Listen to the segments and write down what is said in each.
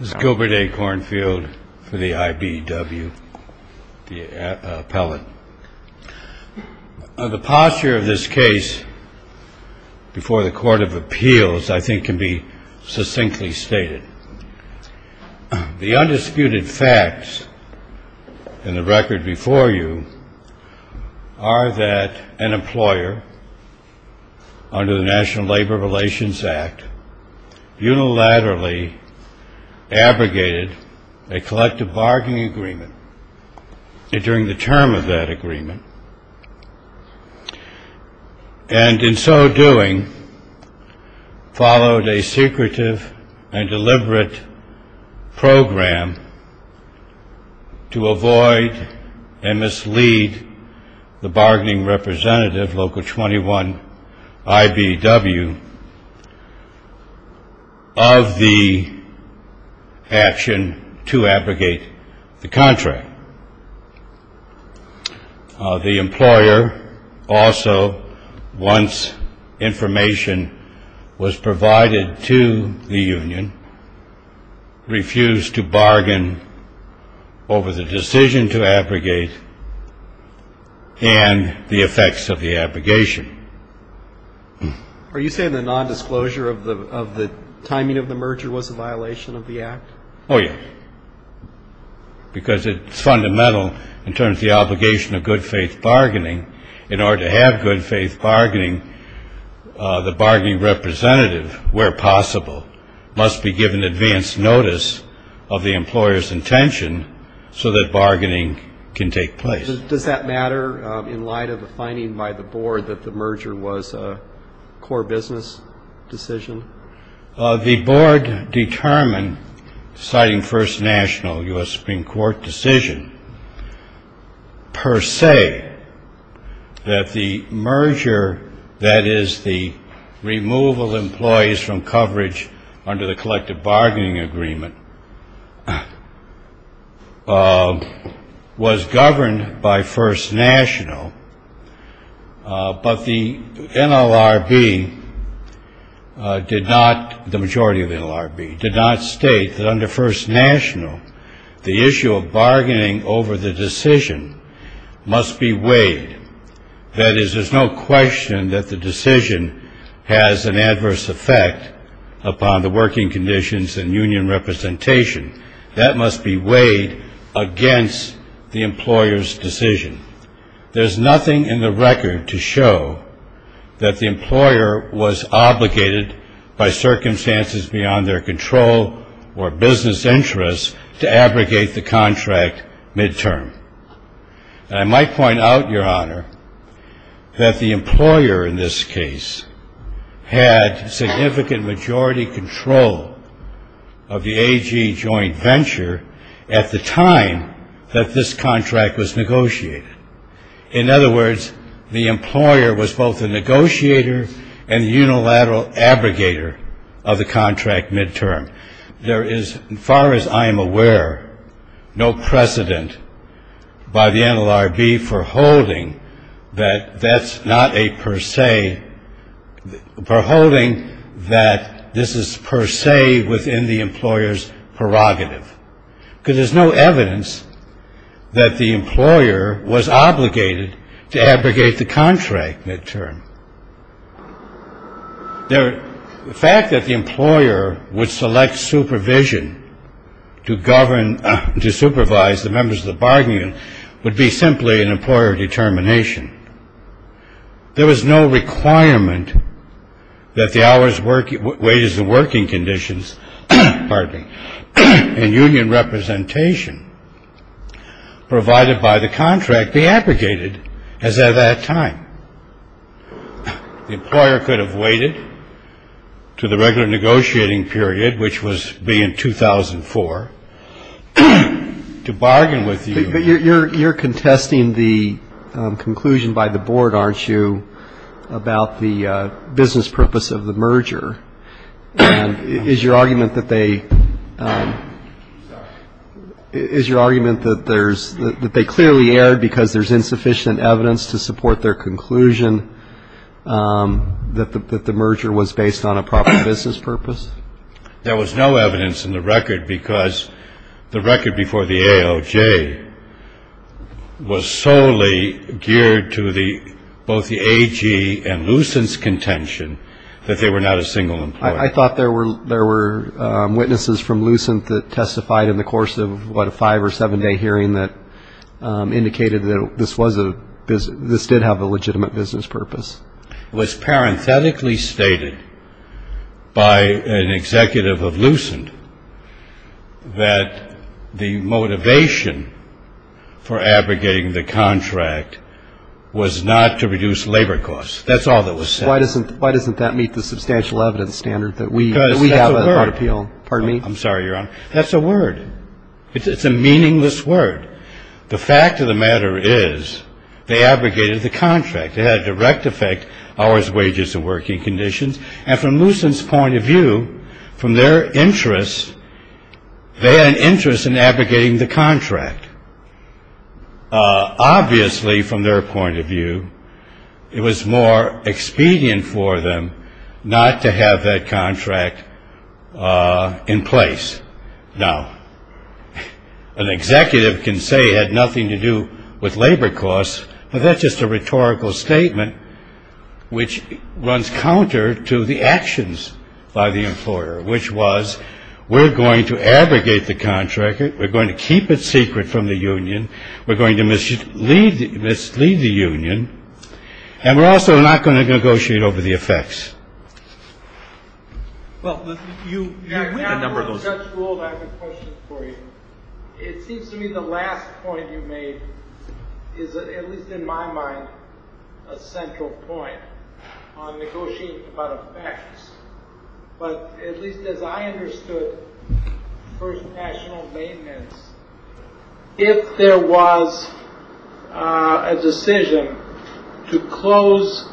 This is Gilbert A. Kornfield for the IBEW, the appellate. The posture of this case before the Court of Appeals I think can be succinctly stated. The undisputed facts in the record before you are that an employer, under the National Labor Relations Act, unilaterally abrogated a collective bargaining agreement during the term of that agreement, and in so doing followed a secretive and deliberate program to avoid and mislead the bargaining representative, Local 21 IBEW, of the action to abrogate the contract. The employer also, once information was provided to the union, refused to bargain over the decision to abrogate and the effects of the abrogation. Are you saying the nondisclosure of the timing of the merger was a violation of the Act? Oh, yes, because it's fundamental in terms of the obligation of good faith bargaining. In order to have good faith bargaining, the bargaining representative, where possible, must be given advance notice of the employer's intention so that bargaining can take place. Does that matter in light of the finding by the board that the merger was a core business decision? The board determined, citing first national U.S. Supreme Court decision, per se, that the merger, that is, the removal of employees from coverage under the collective bargaining agreement, was governed by first national. But the NLRB did not, the majority of the NLRB, did not state that under first national, the issue of bargaining over the decision must be weighed. That is, there's no question that the decision has an adverse effect upon the working conditions and union representation. That must be weighed against the employer's decision. There's nothing in the record to show that the employer was obligated by circumstances beyond their control or business interests to abrogate the contract midterm. And I might point out, Your Honor, that the employer in this case had significant majority control of the AG joint venture at the time that this contract was negotiated. In other words, the employer was both a negotiator and unilateral abrogator of the contract midterm. There is, as far as I am aware, no precedent by the NLRB for holding that that's not a per se, for holding that this is per se within the employer's prerogative. Because there's no evidence that the employer was obligated to abrogate the contract midterm. The fact that the employer would select supervision to govern, to supervise the members of the bargaining union would be simply an employer determination. There was no requirement that the hours, wages and working conditions, pardon me, and union representation provided by the contract be abrogated as at that time. The employer could have waited to the regular negotiating period, which would be in 2004, to bargain with you. But you're contesting the conclusion by the board, aren't you, about the business purpose of the merger. And is your argument that they clearly erred because there's insufficient evidence to support their conclusion that the merger was based on a proper business purpose? There was no evidence in the record because the record before the AOJ was solely geared to both the AG and Lucent's contention that they were not a single employer. I thought there were witnesses from Lucent that testified in the course of, what, a five- or seven-day hearing that indicated that this did have a legitimate business purpose. It was parenthetically stated by an executive of Lucent that the motivation for abrogating the contract was not to reduce labor costs. That's all that was said. Why doesn't that meet the substantial evidence standard that we have at Court of Appeal? Because that's a word. Pardon me? I'm sorry, Your Honor. That's a word. It's a meaningless word. The fact of the matter is they abrogated the contract. It had a direct effect on hours, wages, and working conditions. And from Lucent's point of view, from their interests, they had an interest in abrogating the contract. Obviously, from their point of view, it was more expedient for them not to have that contract in place. Now, an executive can say it had nothing to do with labor costs, but that's just a rhetorical statement which runs counter to the actions by the employer, which was we're going to abrogate the contract, we're going to keep it secret from the union, we're going to mislead the union, and we're also not going to negotiate over the effects. Well, the number goes up. Your Honor, before the judge ruled, I have a question for you. It seems to me the last point you made is, at least in my mind, a central point on negotiating about effects. But at least as I understood First National Maintenance, if there was a decision to close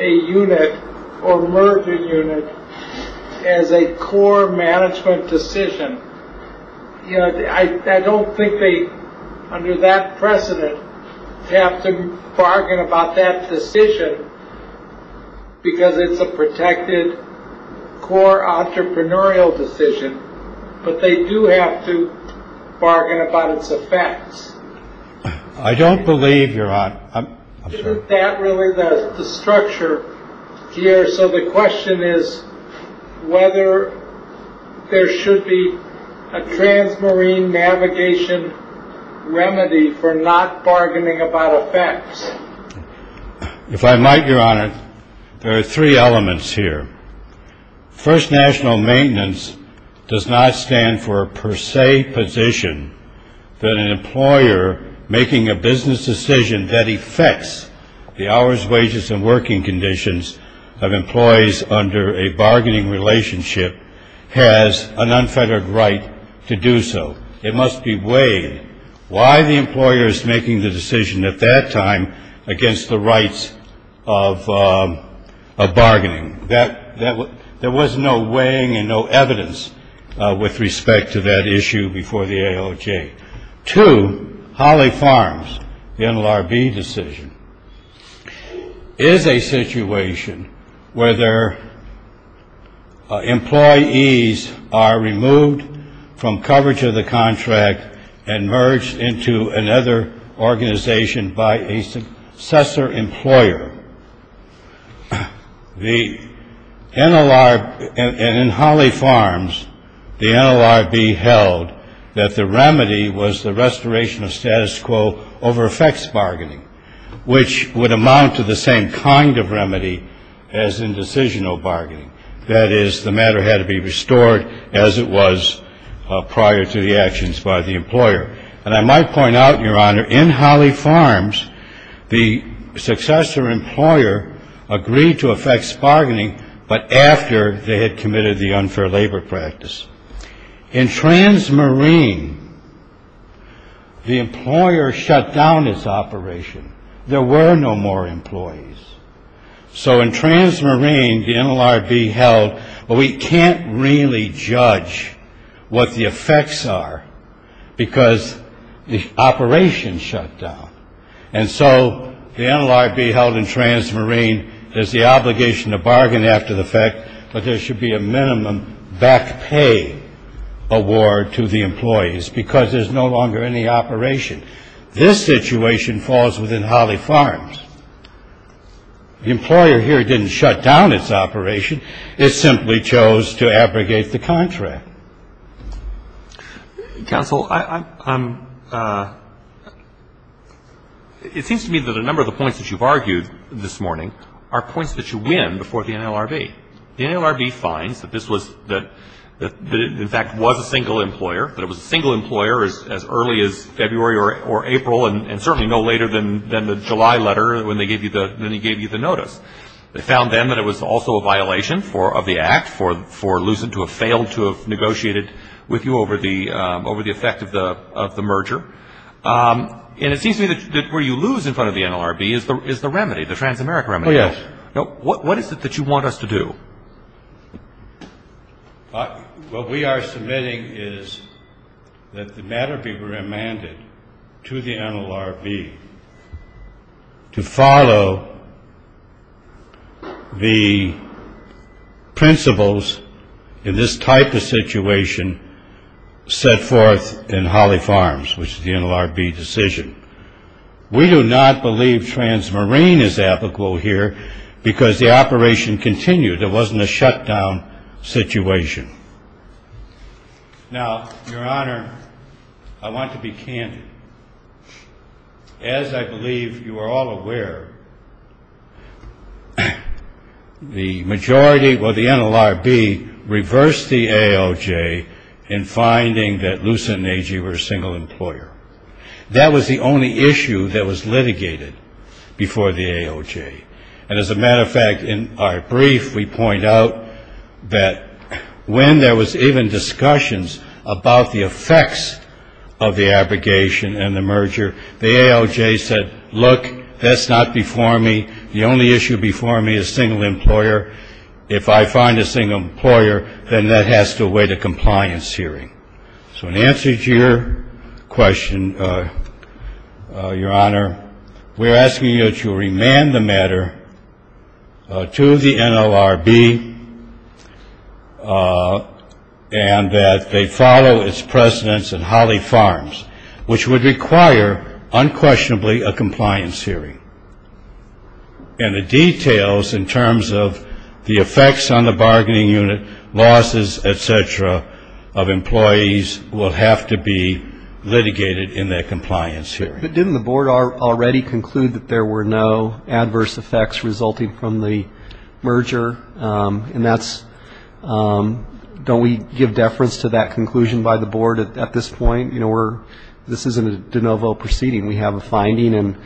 a unit or merge a unit as a core management decision, I don't think they, under that precedent, have to bargain about that decision because it's a protected core entrepreneurial decision, but they do have to bargain about its effects. I don't believe, Your Honor. Isn't that really the structure here? So the question is whether there should be a transmarine navigation remedy for not bargaining about effects. If I might, Your Honor, there are three elements here. First National Maintenance does not stand for a per se position that an employer making a business decision that affects the hours, wages, and working conditions of employees under a bargaining relationship has an unfettered right to do so. It must be weighed why the employer is making the decision at that time against the rights of bargaining. There was no weighing and no evidence with respect to that issue before the AOJ. Two, Holly Farms, the NLRB decision, is a situation where their employees are removed from coverage of the contract and merged into another organization by a successor employer. And in Holly Farms, the NLRB held that the remedy was the restoration of status quo over effects bargaining, which would amount to the same kind of remedy as in decisional bargaining. That is, the matter had to be restored as it was prior to the actions by the employer. And I might point out, Your Honor, in Holly Farms, the successor employer agreed to effects bargaining, but after they had committed the unfair labor practice. In Transmarine, the employer shut down its operation. There were no more employees. So in Transmarine, the NLRB held, well, we can't really judge what the effects are because the operation shut down. And so the NLRB held in Transmarine has the obligation to bargain after the fact, but there should be a minimum back pay award to the employees because there's no longer any operation. This situation falls within Holly Farms. The employer here didn't shut down its operation. It simply chose to abrogate the contract. Counsel, it seems to me that a number of the points that you've argued this morning are points that you win before the NLRB. The NLRB finds that this was, that it in fact was a single employer, that it was a single employer as early as February or April and certainly no later than the July letter when they gave you the notice. They found then that it was also a violation of the act for Lucent to have failed to have negotiated with you over the effect of the merger. And it seems to me that where you lose in front of the NLRB is the remedy, the Transamerica remedy. Oh, yes. What is it that you want us to do? What we are submitting is that the matter be remanded to the NLRB to follow the principles in this type of situation set forth in Holly Farms, which is the NLRB decision. We do not believe Transmarine is applicable here because the operation continued. There wasn't a shutdown situation. Now, Your Honor, I want to be candid. As I believe you are all aware, the majority of the NLRB reversed the ALJ in finding that Lucent and Agee were a single employer. That was the only issue that was litigated before the ALJ. And as a matter of fact, in our brief, we point out that when there was even discussions about the effects of the abrogation and the merger, the ALJ said, look, that's not before me. The only issue before me is single employer. If I find a single employer, then that has to await a compliance hearing. So in answer to your question, Your Honor, we're asking you to remand the matter to the NLRB and that they follow its precedents in Holly Farms, which would require unquestionably a compliance hearing. And the details in terms of the effects on the bargaining unit, losses, et cetera, of employees will have to be litigated in their compliance hearing. But didn't the Board already conclude that there were no adverse effects resulting from the merger? And that's don't we give deference to that conclusion by the Board at this point? You know, this isn't a de novo proceeding. We have a finding and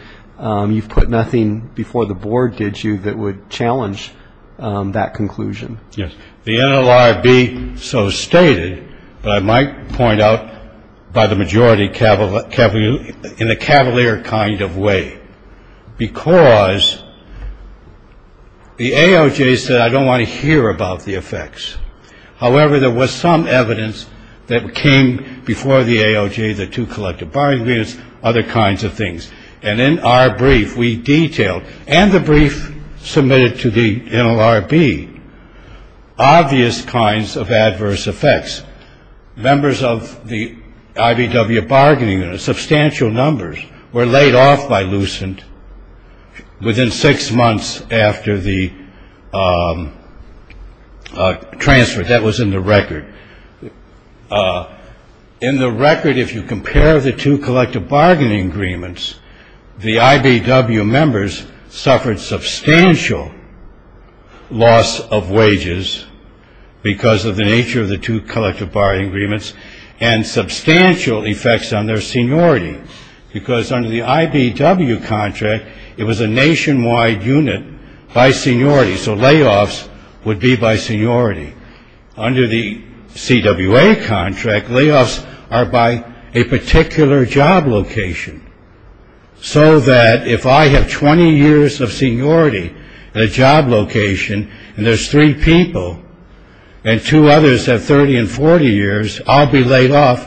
you've put nothing before the Board, did you, that would challenge that conclusion? Yes. The NLRB so stated, but I might point out by the majority cavalier kind of way, because the ALJ said I don't want to hear about the effects. However, there was some evidence that came before the ALJ, the two collective bargaining units, other kinds of things. And in our brief, we detailed and the brief submitted to the NLRB, obvious kinds of adverse effects. Members of the IBW bargaining and substantial numbers were laid off by Lucent within six months after the transfer. That was in the record. In the record, if you compare the two collective bargaining agreements, the IBW members suffered substantial loss of wages because of the nature of the two collective bargaining agreements and substantial effects on their seniority because under the IBW contract, it was a nationwide unit by seniority. So layoffs would be by seniority. Under the CWA contract, layoffs are by a particular job location. So that if I have 20 years of seniority at a job location and there's three people and two others have 30 and 40 years, I'll be laid off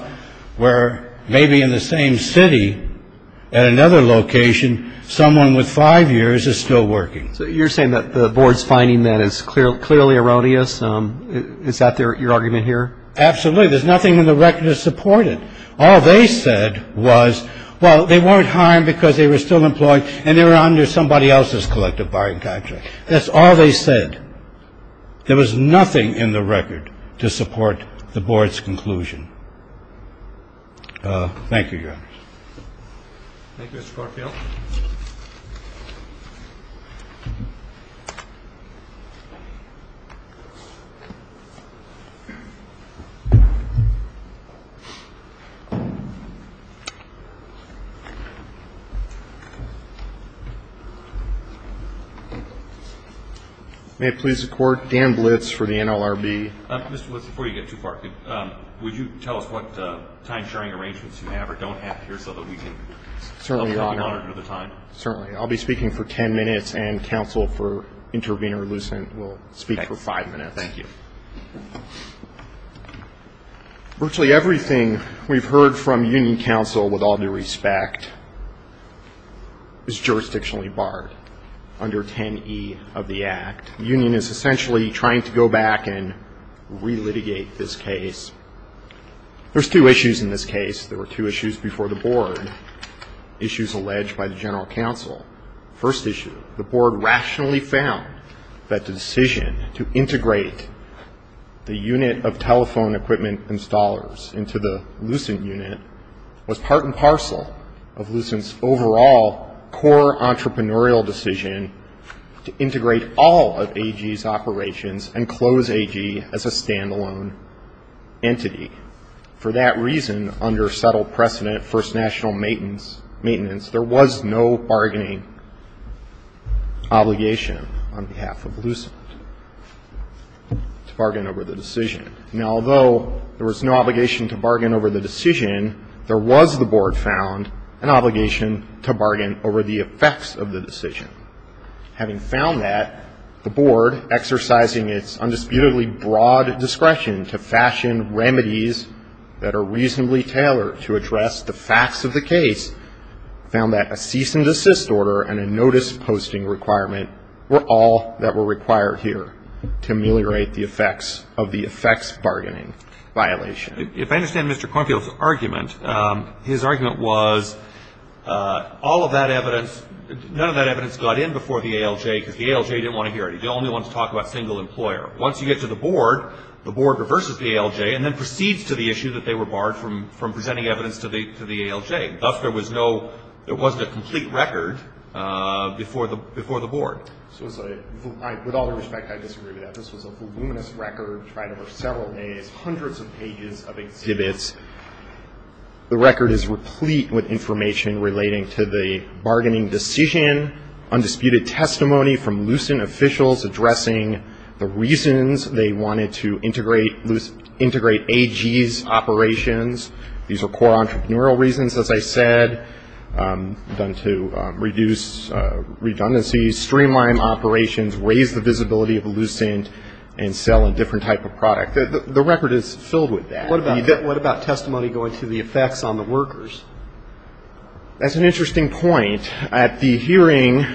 where maybe in the same city at another location, someone with five years is still working. So you're saying that the board's finding that is clearly erroneous. Is that your argument here? Absolutely. There's nothing in the record to support it. All they said was, well, they weren't hired because they were still employed and they were under somebody else's collective bargaining contract. That's all they said. There was nothing in the record to support the board's conclusion. Thank you, Your Honors. Thank you, Mr. Garfield. May it please the Court, Dan Blitz for the NLRB. Mr. Blitz, before you get too far, would you tell us what time-sharing arrangements you have or don't have here so that we can monitor the time? Certainly. I'll be speaking for 10 minutes and counsel for Intervenor Lucent will speak for five minutes. Thank you. Virtually everything we've heard from union counsel, with all due respect, is jurisdictionally barred under 10E of the Act. The union is essentially trying to go back and relitigate this case. There's two issues in this case. There were two issues before the board, issues alleged by the general counsel. First issue, the board rationally found that the decision to integrate the unit of telephone equipment installers into the Lucent unit was part and parcel of Lucent's overall core entrepreneurial decision to integrate all of AG's operations and close AG as a stand-alone entity. For that reason, under settled precedent, First National Maintenance, there was no bargaining obligation on behalf of Lucent to bargain over the decision. Now, although there was no obligation to bargain over the decision, there was, the board found, an obligation to bargain over the effects of the decision. Having found that, the board, exercising its undisputedly broad discretion to fashion remedies that are reasonably tailored to address the facts of the case, found that a cease and desist order and a notice posting requirement were all that were required here to ameliorate the effects of the effects bargaining violation. If I understand Mr. Cornfield's argument, his argument was all of that evidence, none of that evidence got in before the ALJ because the ALJ didn't want to hear it. He only wanted to talk about single employer. Once you get to the board, the board reverses the ALJ and then proceeds to the issue that they were barred from presenting evidence to the ALJ. Thus, there was no, there wasn't a complete record before the board. With all due respect, I disagree with that. This was a voluminous record tried over several days, hundreds of pages of exhibits. The record is replete with information relating to the bargaining decision, undisputed testimony from Lucent officials addressing the reasons they wanted to integrate AG's operations. These are core entrepreneurial reasons, as I said, done to reduce redundancies, streamline operations, raise the visibility of Lucent, and sell a different type of product. The record is filled with that. What about testimony going to the effects on the workers? That's an interesting point. At the hearing,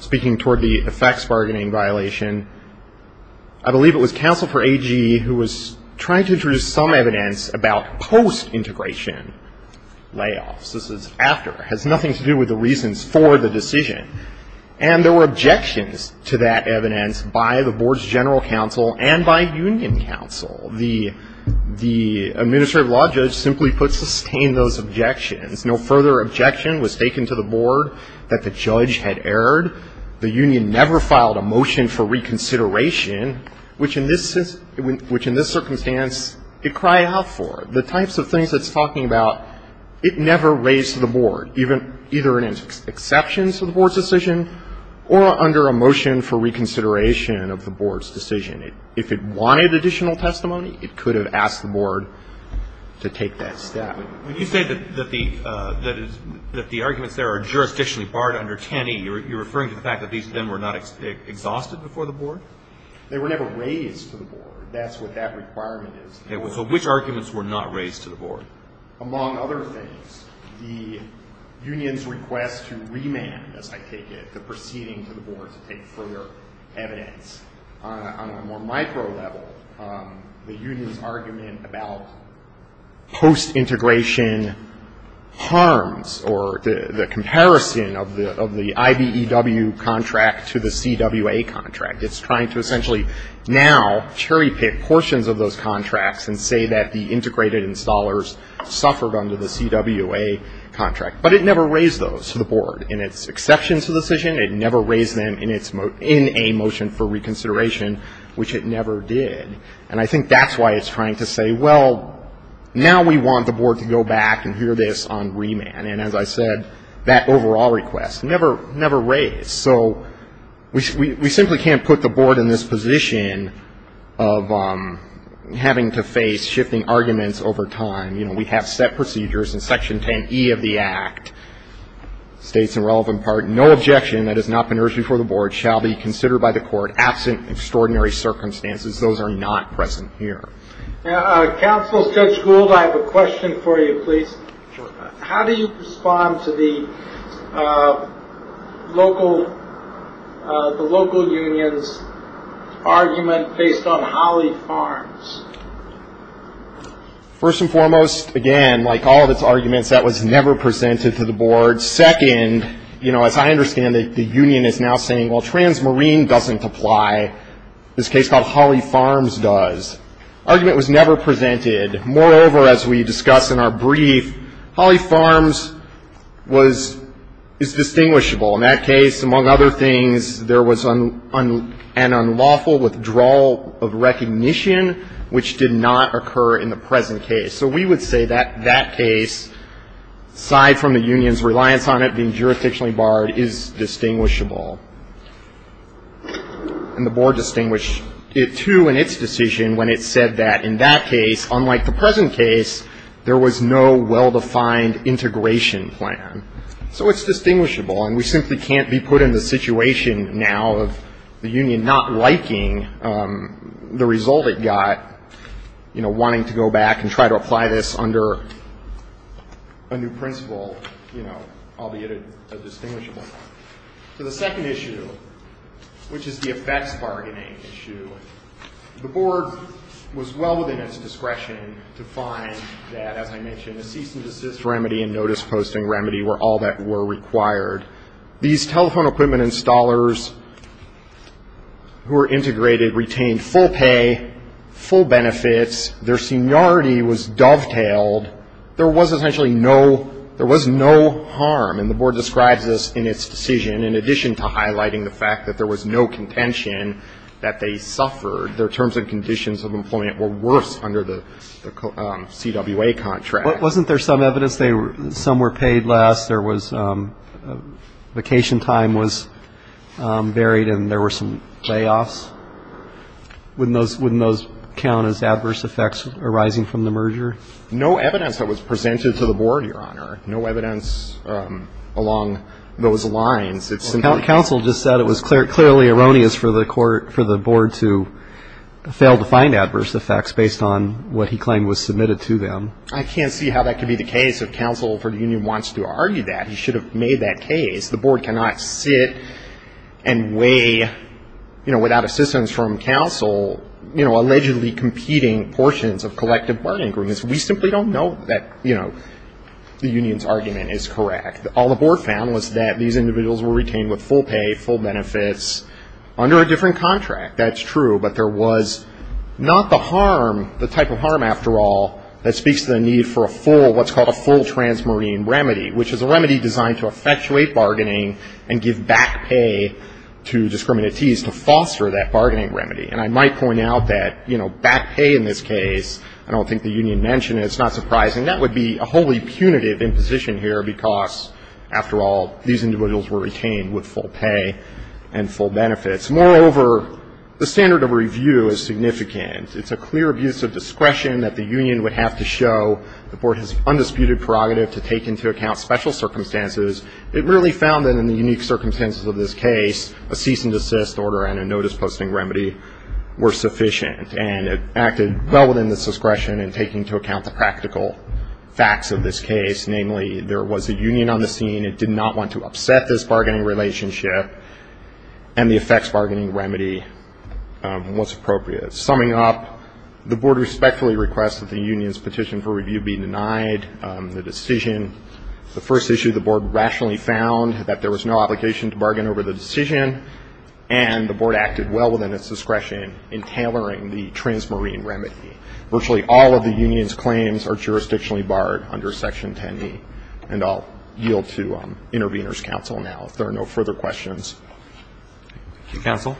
speaking toward the effects bargaining violation, I believe it was counsel for AG who was trying to introduce some evidence about post-integration layoffs. This is after. It has nothing to do with the reasons for the decision. And there were objections to that evidence by the board's general counsel and by union counsel. The administrative law judge simply put, sustain those objections. No further objection was taken to the board that the judge had erred. The union never filed a motion for reconsideration, which in this circumstance it cried out for. The types of things it's talking about, it never raised to the board, either in its exceptions to the board's decision or under a motion for reconsideration of the board's decision. If it wanted additional testimony, it could have asked the board to take that step. When you say that the arguments there are jurisdictionally barred under 10E, you're referring to the fact that these then were not exhausted before the board? They were never raised to the board. That's what that requirement is. So which arguments were not raised to the board? Among other things, the union's request to remand, as I take it, the proceeding to the board to take further evidence. On a more micro level, the union's argument about post-integration harms or the comparison of the IBEW contract to the CWA contract. It's trying to essentially now cherry-pick portions of those contracts and say that the integrated installers suffered under the CWA contract. But it never raised those to the board in its exceptions to the decision. It never raised them in a motion for reconsideration, which it never did. And I think that's why it's trying to say, well, now we want the board to go back and hear this on remand. And as I said, that overall request never raised. So we simply can't put the board in this position of having to face shifting arguments over time. You know, we have set procedures in Section 10E of the Act, states in relevant part, no objection that has not been raised before the board shall be considered by the court absent extraordinary circumstances. Those are not present here. Counsel, Judge Gould, I have a question for you, please. How do you respond to the local union's argument based on Holley Farms? First and foremost, again, like all of its arguments, that was never presented to the board. Second, you know, as I understand it, the union is now saying, well, Transmarine doesn't apply. This case called Holley Farms does. Argument was never presented. Moreover, as we discussed in our brief, Holley Farms was ‑‑ is distinguishable. In that case, among other things, there was an unlawful withdrawal of recognition, which did not occur in the present case. So we would say that that case, aside from the union's reliance on it being jurisdictionally barred, is distinguishable. And the board distinguished it, too, in its decision when it said that, in that case, unlike the present case, there was no well‑defined integration plan. So it's distinguishable. And we simply can't be put in the situation now of the union not liking the result it got, you know, wanting to go back and try to apply this under a new principle, you know, albeit a distinguishable one. So the second issue, which is the effects bargaining issue, the board was well within its discretion to find that, as I mentioned, a cease‑and‑desist remedy and notice‑posting remedy were all that were required. These telephone equipment installers who were integrated retained full pay, full benefits. Their seniority was dovetailed. There was essentially no ‑‑ there was no harm, and the board describes this in its decision, in addition to highlighting the fact that there was no contention that they suffered. Their terms and conditions of employment were worse under the CWA contract. But wasn't there some evidence they were ‑‑ some were paid less. There was vacation time was varied, and there were some layoffs. Wouldn't those count as adverse effects arising from the merger? No evidence that was presented to the board, Your Honor. No evidence along those lines. Counsel just said it was clearly erroneous for the board to fail to find adverse effects based on what he claimed was submitted to them. I can't see how that could be the case if counsel for the union wants to argue that. He should have made that case. The board cannot sit and weigh, you know, without assistance from counsel, you know, allegedly competing portions of collective bargaining agreements. We simply don't know that, you know, the union's argument is correct. All the board found was that these individuals were retained with full pay, full benefits, under a different contract. That's true, but there was not the harm, the type of harm after all, that speaks to the need for a full, what's called a full transmarine remedy, which is a remedy designed to effectuate bargaining and give back pay to discriminatees to foster that bargaining remedy. And I might point out that, you know, back pay in this case, I don't think the union mentioned it. It's not surprising. That would be a wholly punitive imposition here because, after all, these individuals were retained with full pay and full benefits. Moreover, the standard of review is significant. It's a clear abuse of discretion that the union would have to show. The board has undisputed prerogative to take into account special circumstances. It really found that in the unique circumstances of this case, a cease and desist order and a notice posting remedy were sufficient, and it acted well within the discretion in taking into account the practical facts of this case. Namely, there was a union on the scene. It did not want to upset this bargaining relationship and the effects bargaining remedy was appropriate. Summing up, the board respectfully requests that the union's petition for review be denied. The decision, the first issue the board rationally found, that there was no obligation to bargain over the decision, and the board acted well within its discretion in tailoring the transmarine remedy. Virtually all of the union's claims are jurisdictionally barred under Section 10b, and I'll yield to intervener's counsel now if there are no further questions. Thank you, counsel.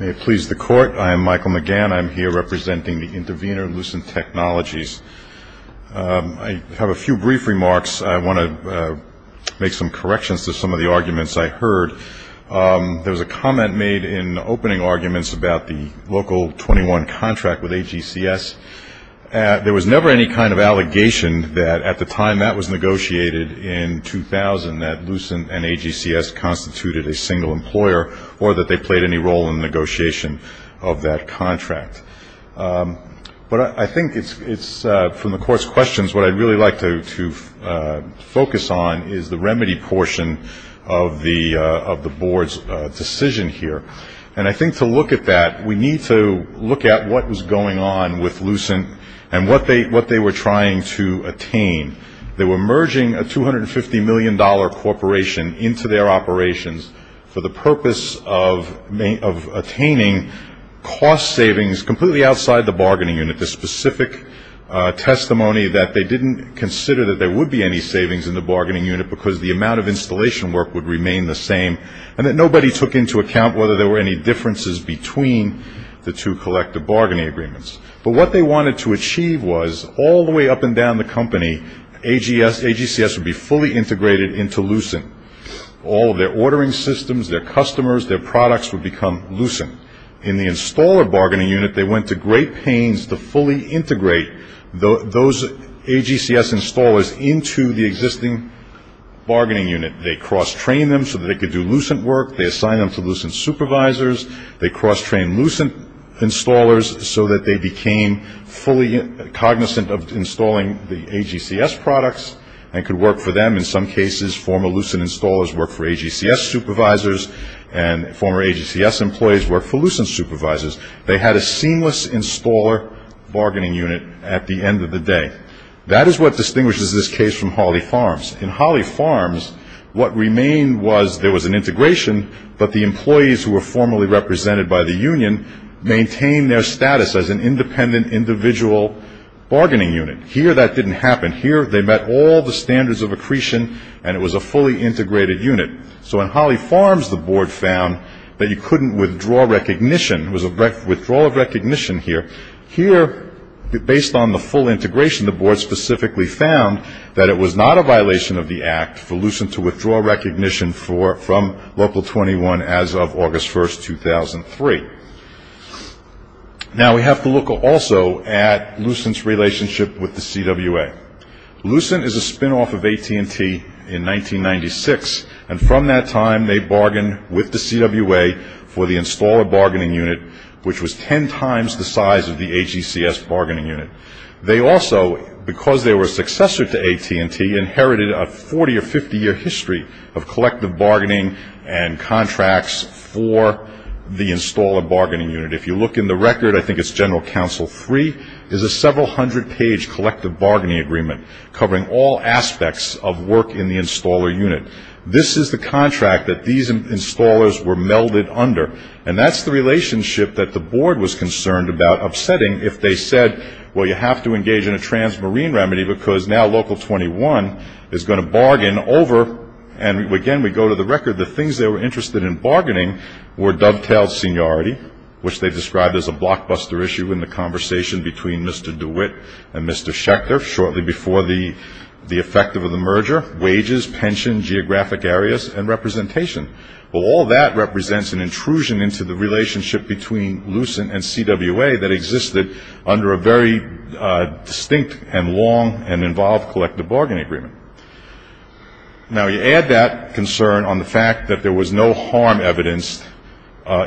May it please the Court. I am Michael McGann. I'm here representing the intervener, Lucent Technologies. I have a few brief remarks. I want to make some corrections to some of the arguments I heard. There was a comment made in opening arguments about the Local 21 contract with AGCS. There was never any kind of allegation that at the time that was negotiated in 2000, that Lucent and AGCS constituted a single employer or that they played any role in the negotiation of that contract. But I think it's, from the Court's questions, what I'd really like to focus on is the remedy portion of the board's decision here. And I think to look at that, we need to look at what was going on with Lucent and what they were trying to attain. They were merging a $250 million corporation into their operations for the purpose of attaining cost savings completely outside the bargaining unit. There's specific testimony that they didn't consider that there would be any savings in the bargaining unit because the amount of installation work would remain the same, and that nobody took into account whether there were any differences between the two collective bargaining agreements. But what they wanted to achieve was all the way up and down the company, AGCS would be fully integrated into Lucent. All of their ordering systems, their customers, their products would become Lucent. In the installer bargaining unit, they went to great pains to fully integrate those AGCS installers into the existing bargaining unit. They cross-trained them so that they could do Lucent work. They assigned them to Lucent supervisors. They cross-trained Lucent installers so that they became fully cognizant of installing the AGCS products and could work for them. In some cases, former Lucent installers worked for AGCS supervisors, and former AGCS employees worked for Lucent supervisors. They had a seamless installer bargaining unit at the end of the day. That is what distinguishes this case from Holly Farms. In Holly Farms, what remained was there was an integration, but the employees who were formally represented by the union maintained their status as an independent individual bargaining unit. Here, that didn't happen. Here, they met all the standards of accretion, and it was a fully integrated unit. So in Holly Farms, the board found that you couldn't withdraw recognition. There was a withdrawal of recognition here. Here, based on the full integration, the board specifically found that it was not a violation of the act for Lucent to withdraw recognition from Local 21 as of August 1, 2003. Now, we have to look also at Lucent's relationship with the CWA. Lucent is a spinoff of AT&T in 1996, and from that time they bargained with the CWA for the installer bargaining unit, which was ten times the size of the AGCS bargaining unit. They also, because they were a successor to AT&T, inherited a 40- or 50-year history of collective bargaining and contracts for the installer bargaining unit. If you look in the record, I think it's General Counsel 3, is a several-hundred-page collective bargaining agreement covering all aspects of work in the installer unit. This is the contract that these installers were melded under, and that's the relationship that the board was concerned about upsetting if they said, well, you have to engage in a transmarine remedy because now Local 21 is going to bargain over, and again, we go to the record, the things they were interested in bargaining were dovetailed seniority, which they described as a blockbuster issue in the conversation between Mr. DeWitt and Mr. Schechter shortly before the effect of the merger, wages, pension, geographic areas, and representation. Well, all that represents an intrusion into the relationship between Lucent and CWA that existed under a very distinct and long and involved collective bargaining agreement. Now, you add that concern on the fact that there was no harm evidenced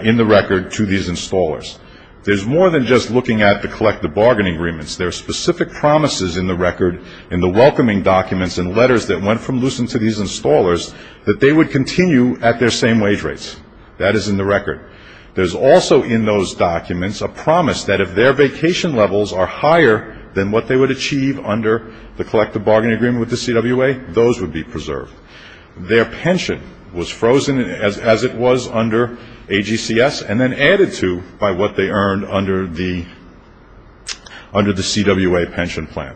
in the record to these installers. There's more than just looking at the collective bargaining agreements. There are specific promises in the record, in the welcoming documents and letters that went from Lucent to these installers, that they would continue at their same wage rates. That is in the record. There's also in those documents a promise that if their vacation levels are higher than what they would achieve under the collective bargaining agreement with the CWA, those would be preserved. Their pension was frozen as it was under AGCS and then added to by what they earned under the CWA pension plan.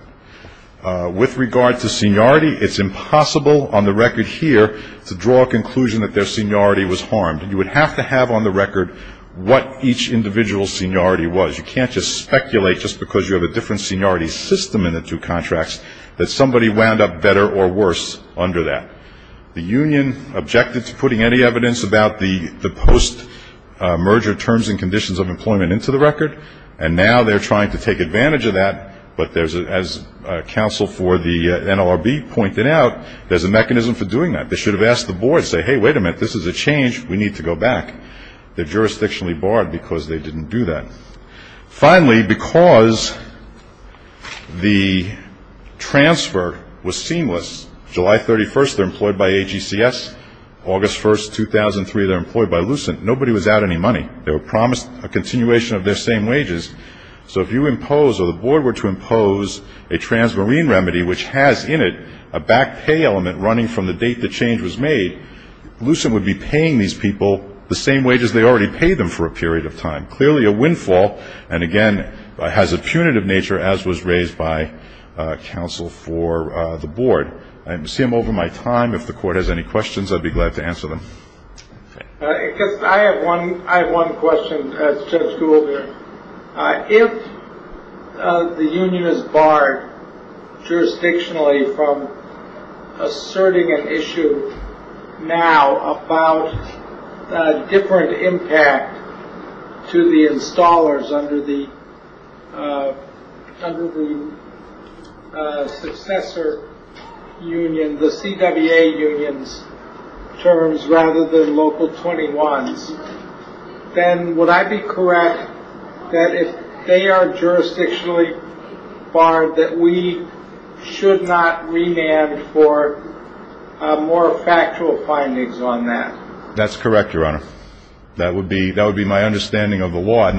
With regard to seniority, it's impossible on the record here to draw a conclusion that their seniority was harmed. You would have to have on the record what each individual's seniority was. You can't just speculate just because you have a different seniority system in the two contracts that somebody wound up better or worse under that. The union objected to putting any evidence about the post-merger terms and conditions of employment into the record, and now they're trying to take advantage of that. But as counsel for the NLRB pointed out, there's a mechanism for doing that. They should have asked the board, say, hey, wait a minute, this is a change. We need to go back. They're jurisdictionally barred because they didn't do that. Finally, because the transfer was seamless, July 31st, they're employed by AGCS. August 1st, 2003, they're employed by Lucent. Nobody was out any money. They were promised a continuation of their same wages. So if you impose or the board were to impose a transmarine remedy, which has in it a back pay element running from the date the change was made, Lucent would be paying these people the same wages they already paid them for a period of time. Clearly a windfall and, again, has a punitive nature, as was raised by counsel for the board. I see I'm over my time. If the court has any questions, I'd be glad to answer them. I have one question, Judge Gould. If the union is barred jurisdictionally from asserting an issue now about different impact to the installers under the successor union, the CWA union's terms rather than local 21's, then would I be correct that if they are jurisdictionally barred, that we should not remand for more factual findings on that? That's correct, Your Honor. That would be my understanding of the law.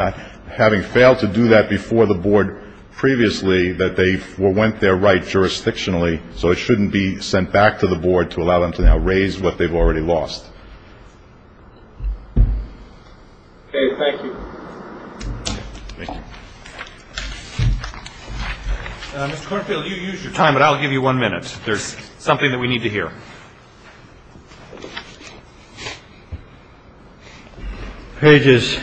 Having failed to do that before the board previously, that they went there right jurisdictionally, so it shouldn't be sent back to the board to allow them to now raise what they've already lost. Okay. Thank you. Thank you. Mr. Kornfield, you used your time, but I'll give you one minute. There's something that we need to hear. Sure. Pages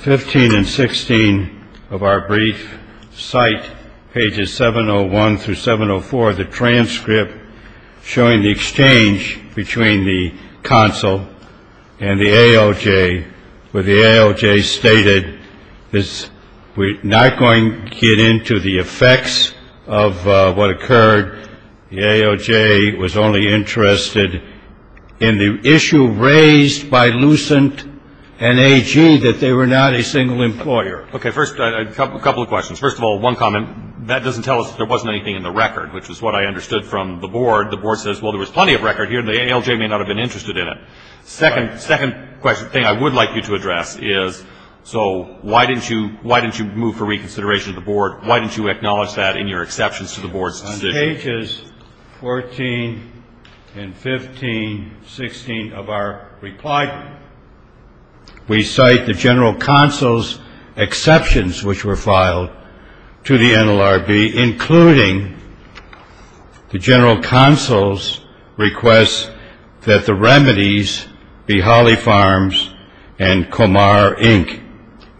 15 and 16 of our brief cite pages 701 through 704 of the transcript showing the exchange between the consul and the AOJ, where the AOJ stated, we're not going to get into the effects of what occurred. The AOJ was only interested in the issue raised by Lucent and AG that they were not a single employer. Okay. First, a couple of questions. First of all, one comment, that doesn't tell us there wasn't anything in the record, which is what I understood from the board. The board says, well, there was plenty of record here, and the AOJ may not have been interested in it. Second thing I would like you to address is, so why didn't you move for reconsideration of the board? Why didn't you acknowledge that in your exceptions to the board's decision? On pages 14 and 15, 16 of our reply, we cite the general consul's exceptions, which were filed to the NLRB, including the general consul's request that the remedies be Holly Farms and Comar, Inc.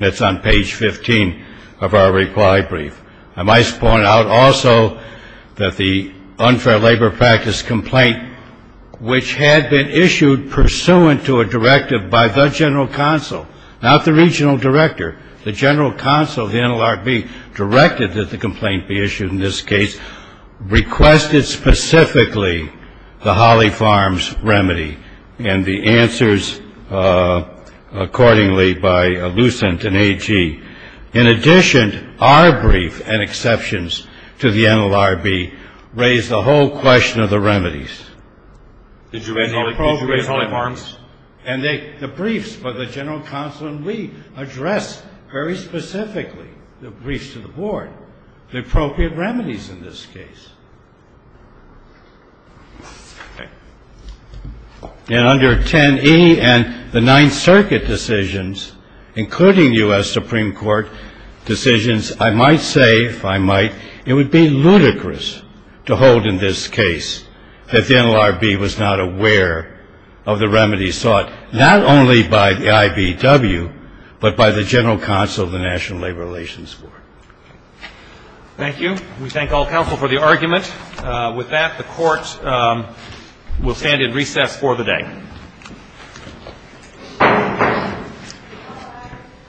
That's on page 15 of our reply brief. I might point out also that the unfair labor practice complaint, which had been issued pursuant to a directive by the general consul, not the regional director, the general consul of the NLRB directed that the complaint be issued in this case, requested specifically the Holly Farms remedy and the answers accordingly by Lucent and AG. In addition, our brief and exceptions to the NLRB raise the whole question of the remedies. Did you raise Holly Farms? The briefs by the general consul and we address very specifically the briefs to the board, the appropriate remedies in this case. In under 10E and the Ninth Circuit decisions, including U.S. Supreme Court decisions, I might say, if I might, it would be ludicrous to hold in this case that the NLRB was not aware of the remedies sought not only by the IBW, but by the general consul of the National Labor Relations Board. Thank you. We thank all counsel for the argument. With that, the Court will stand in recess for the day.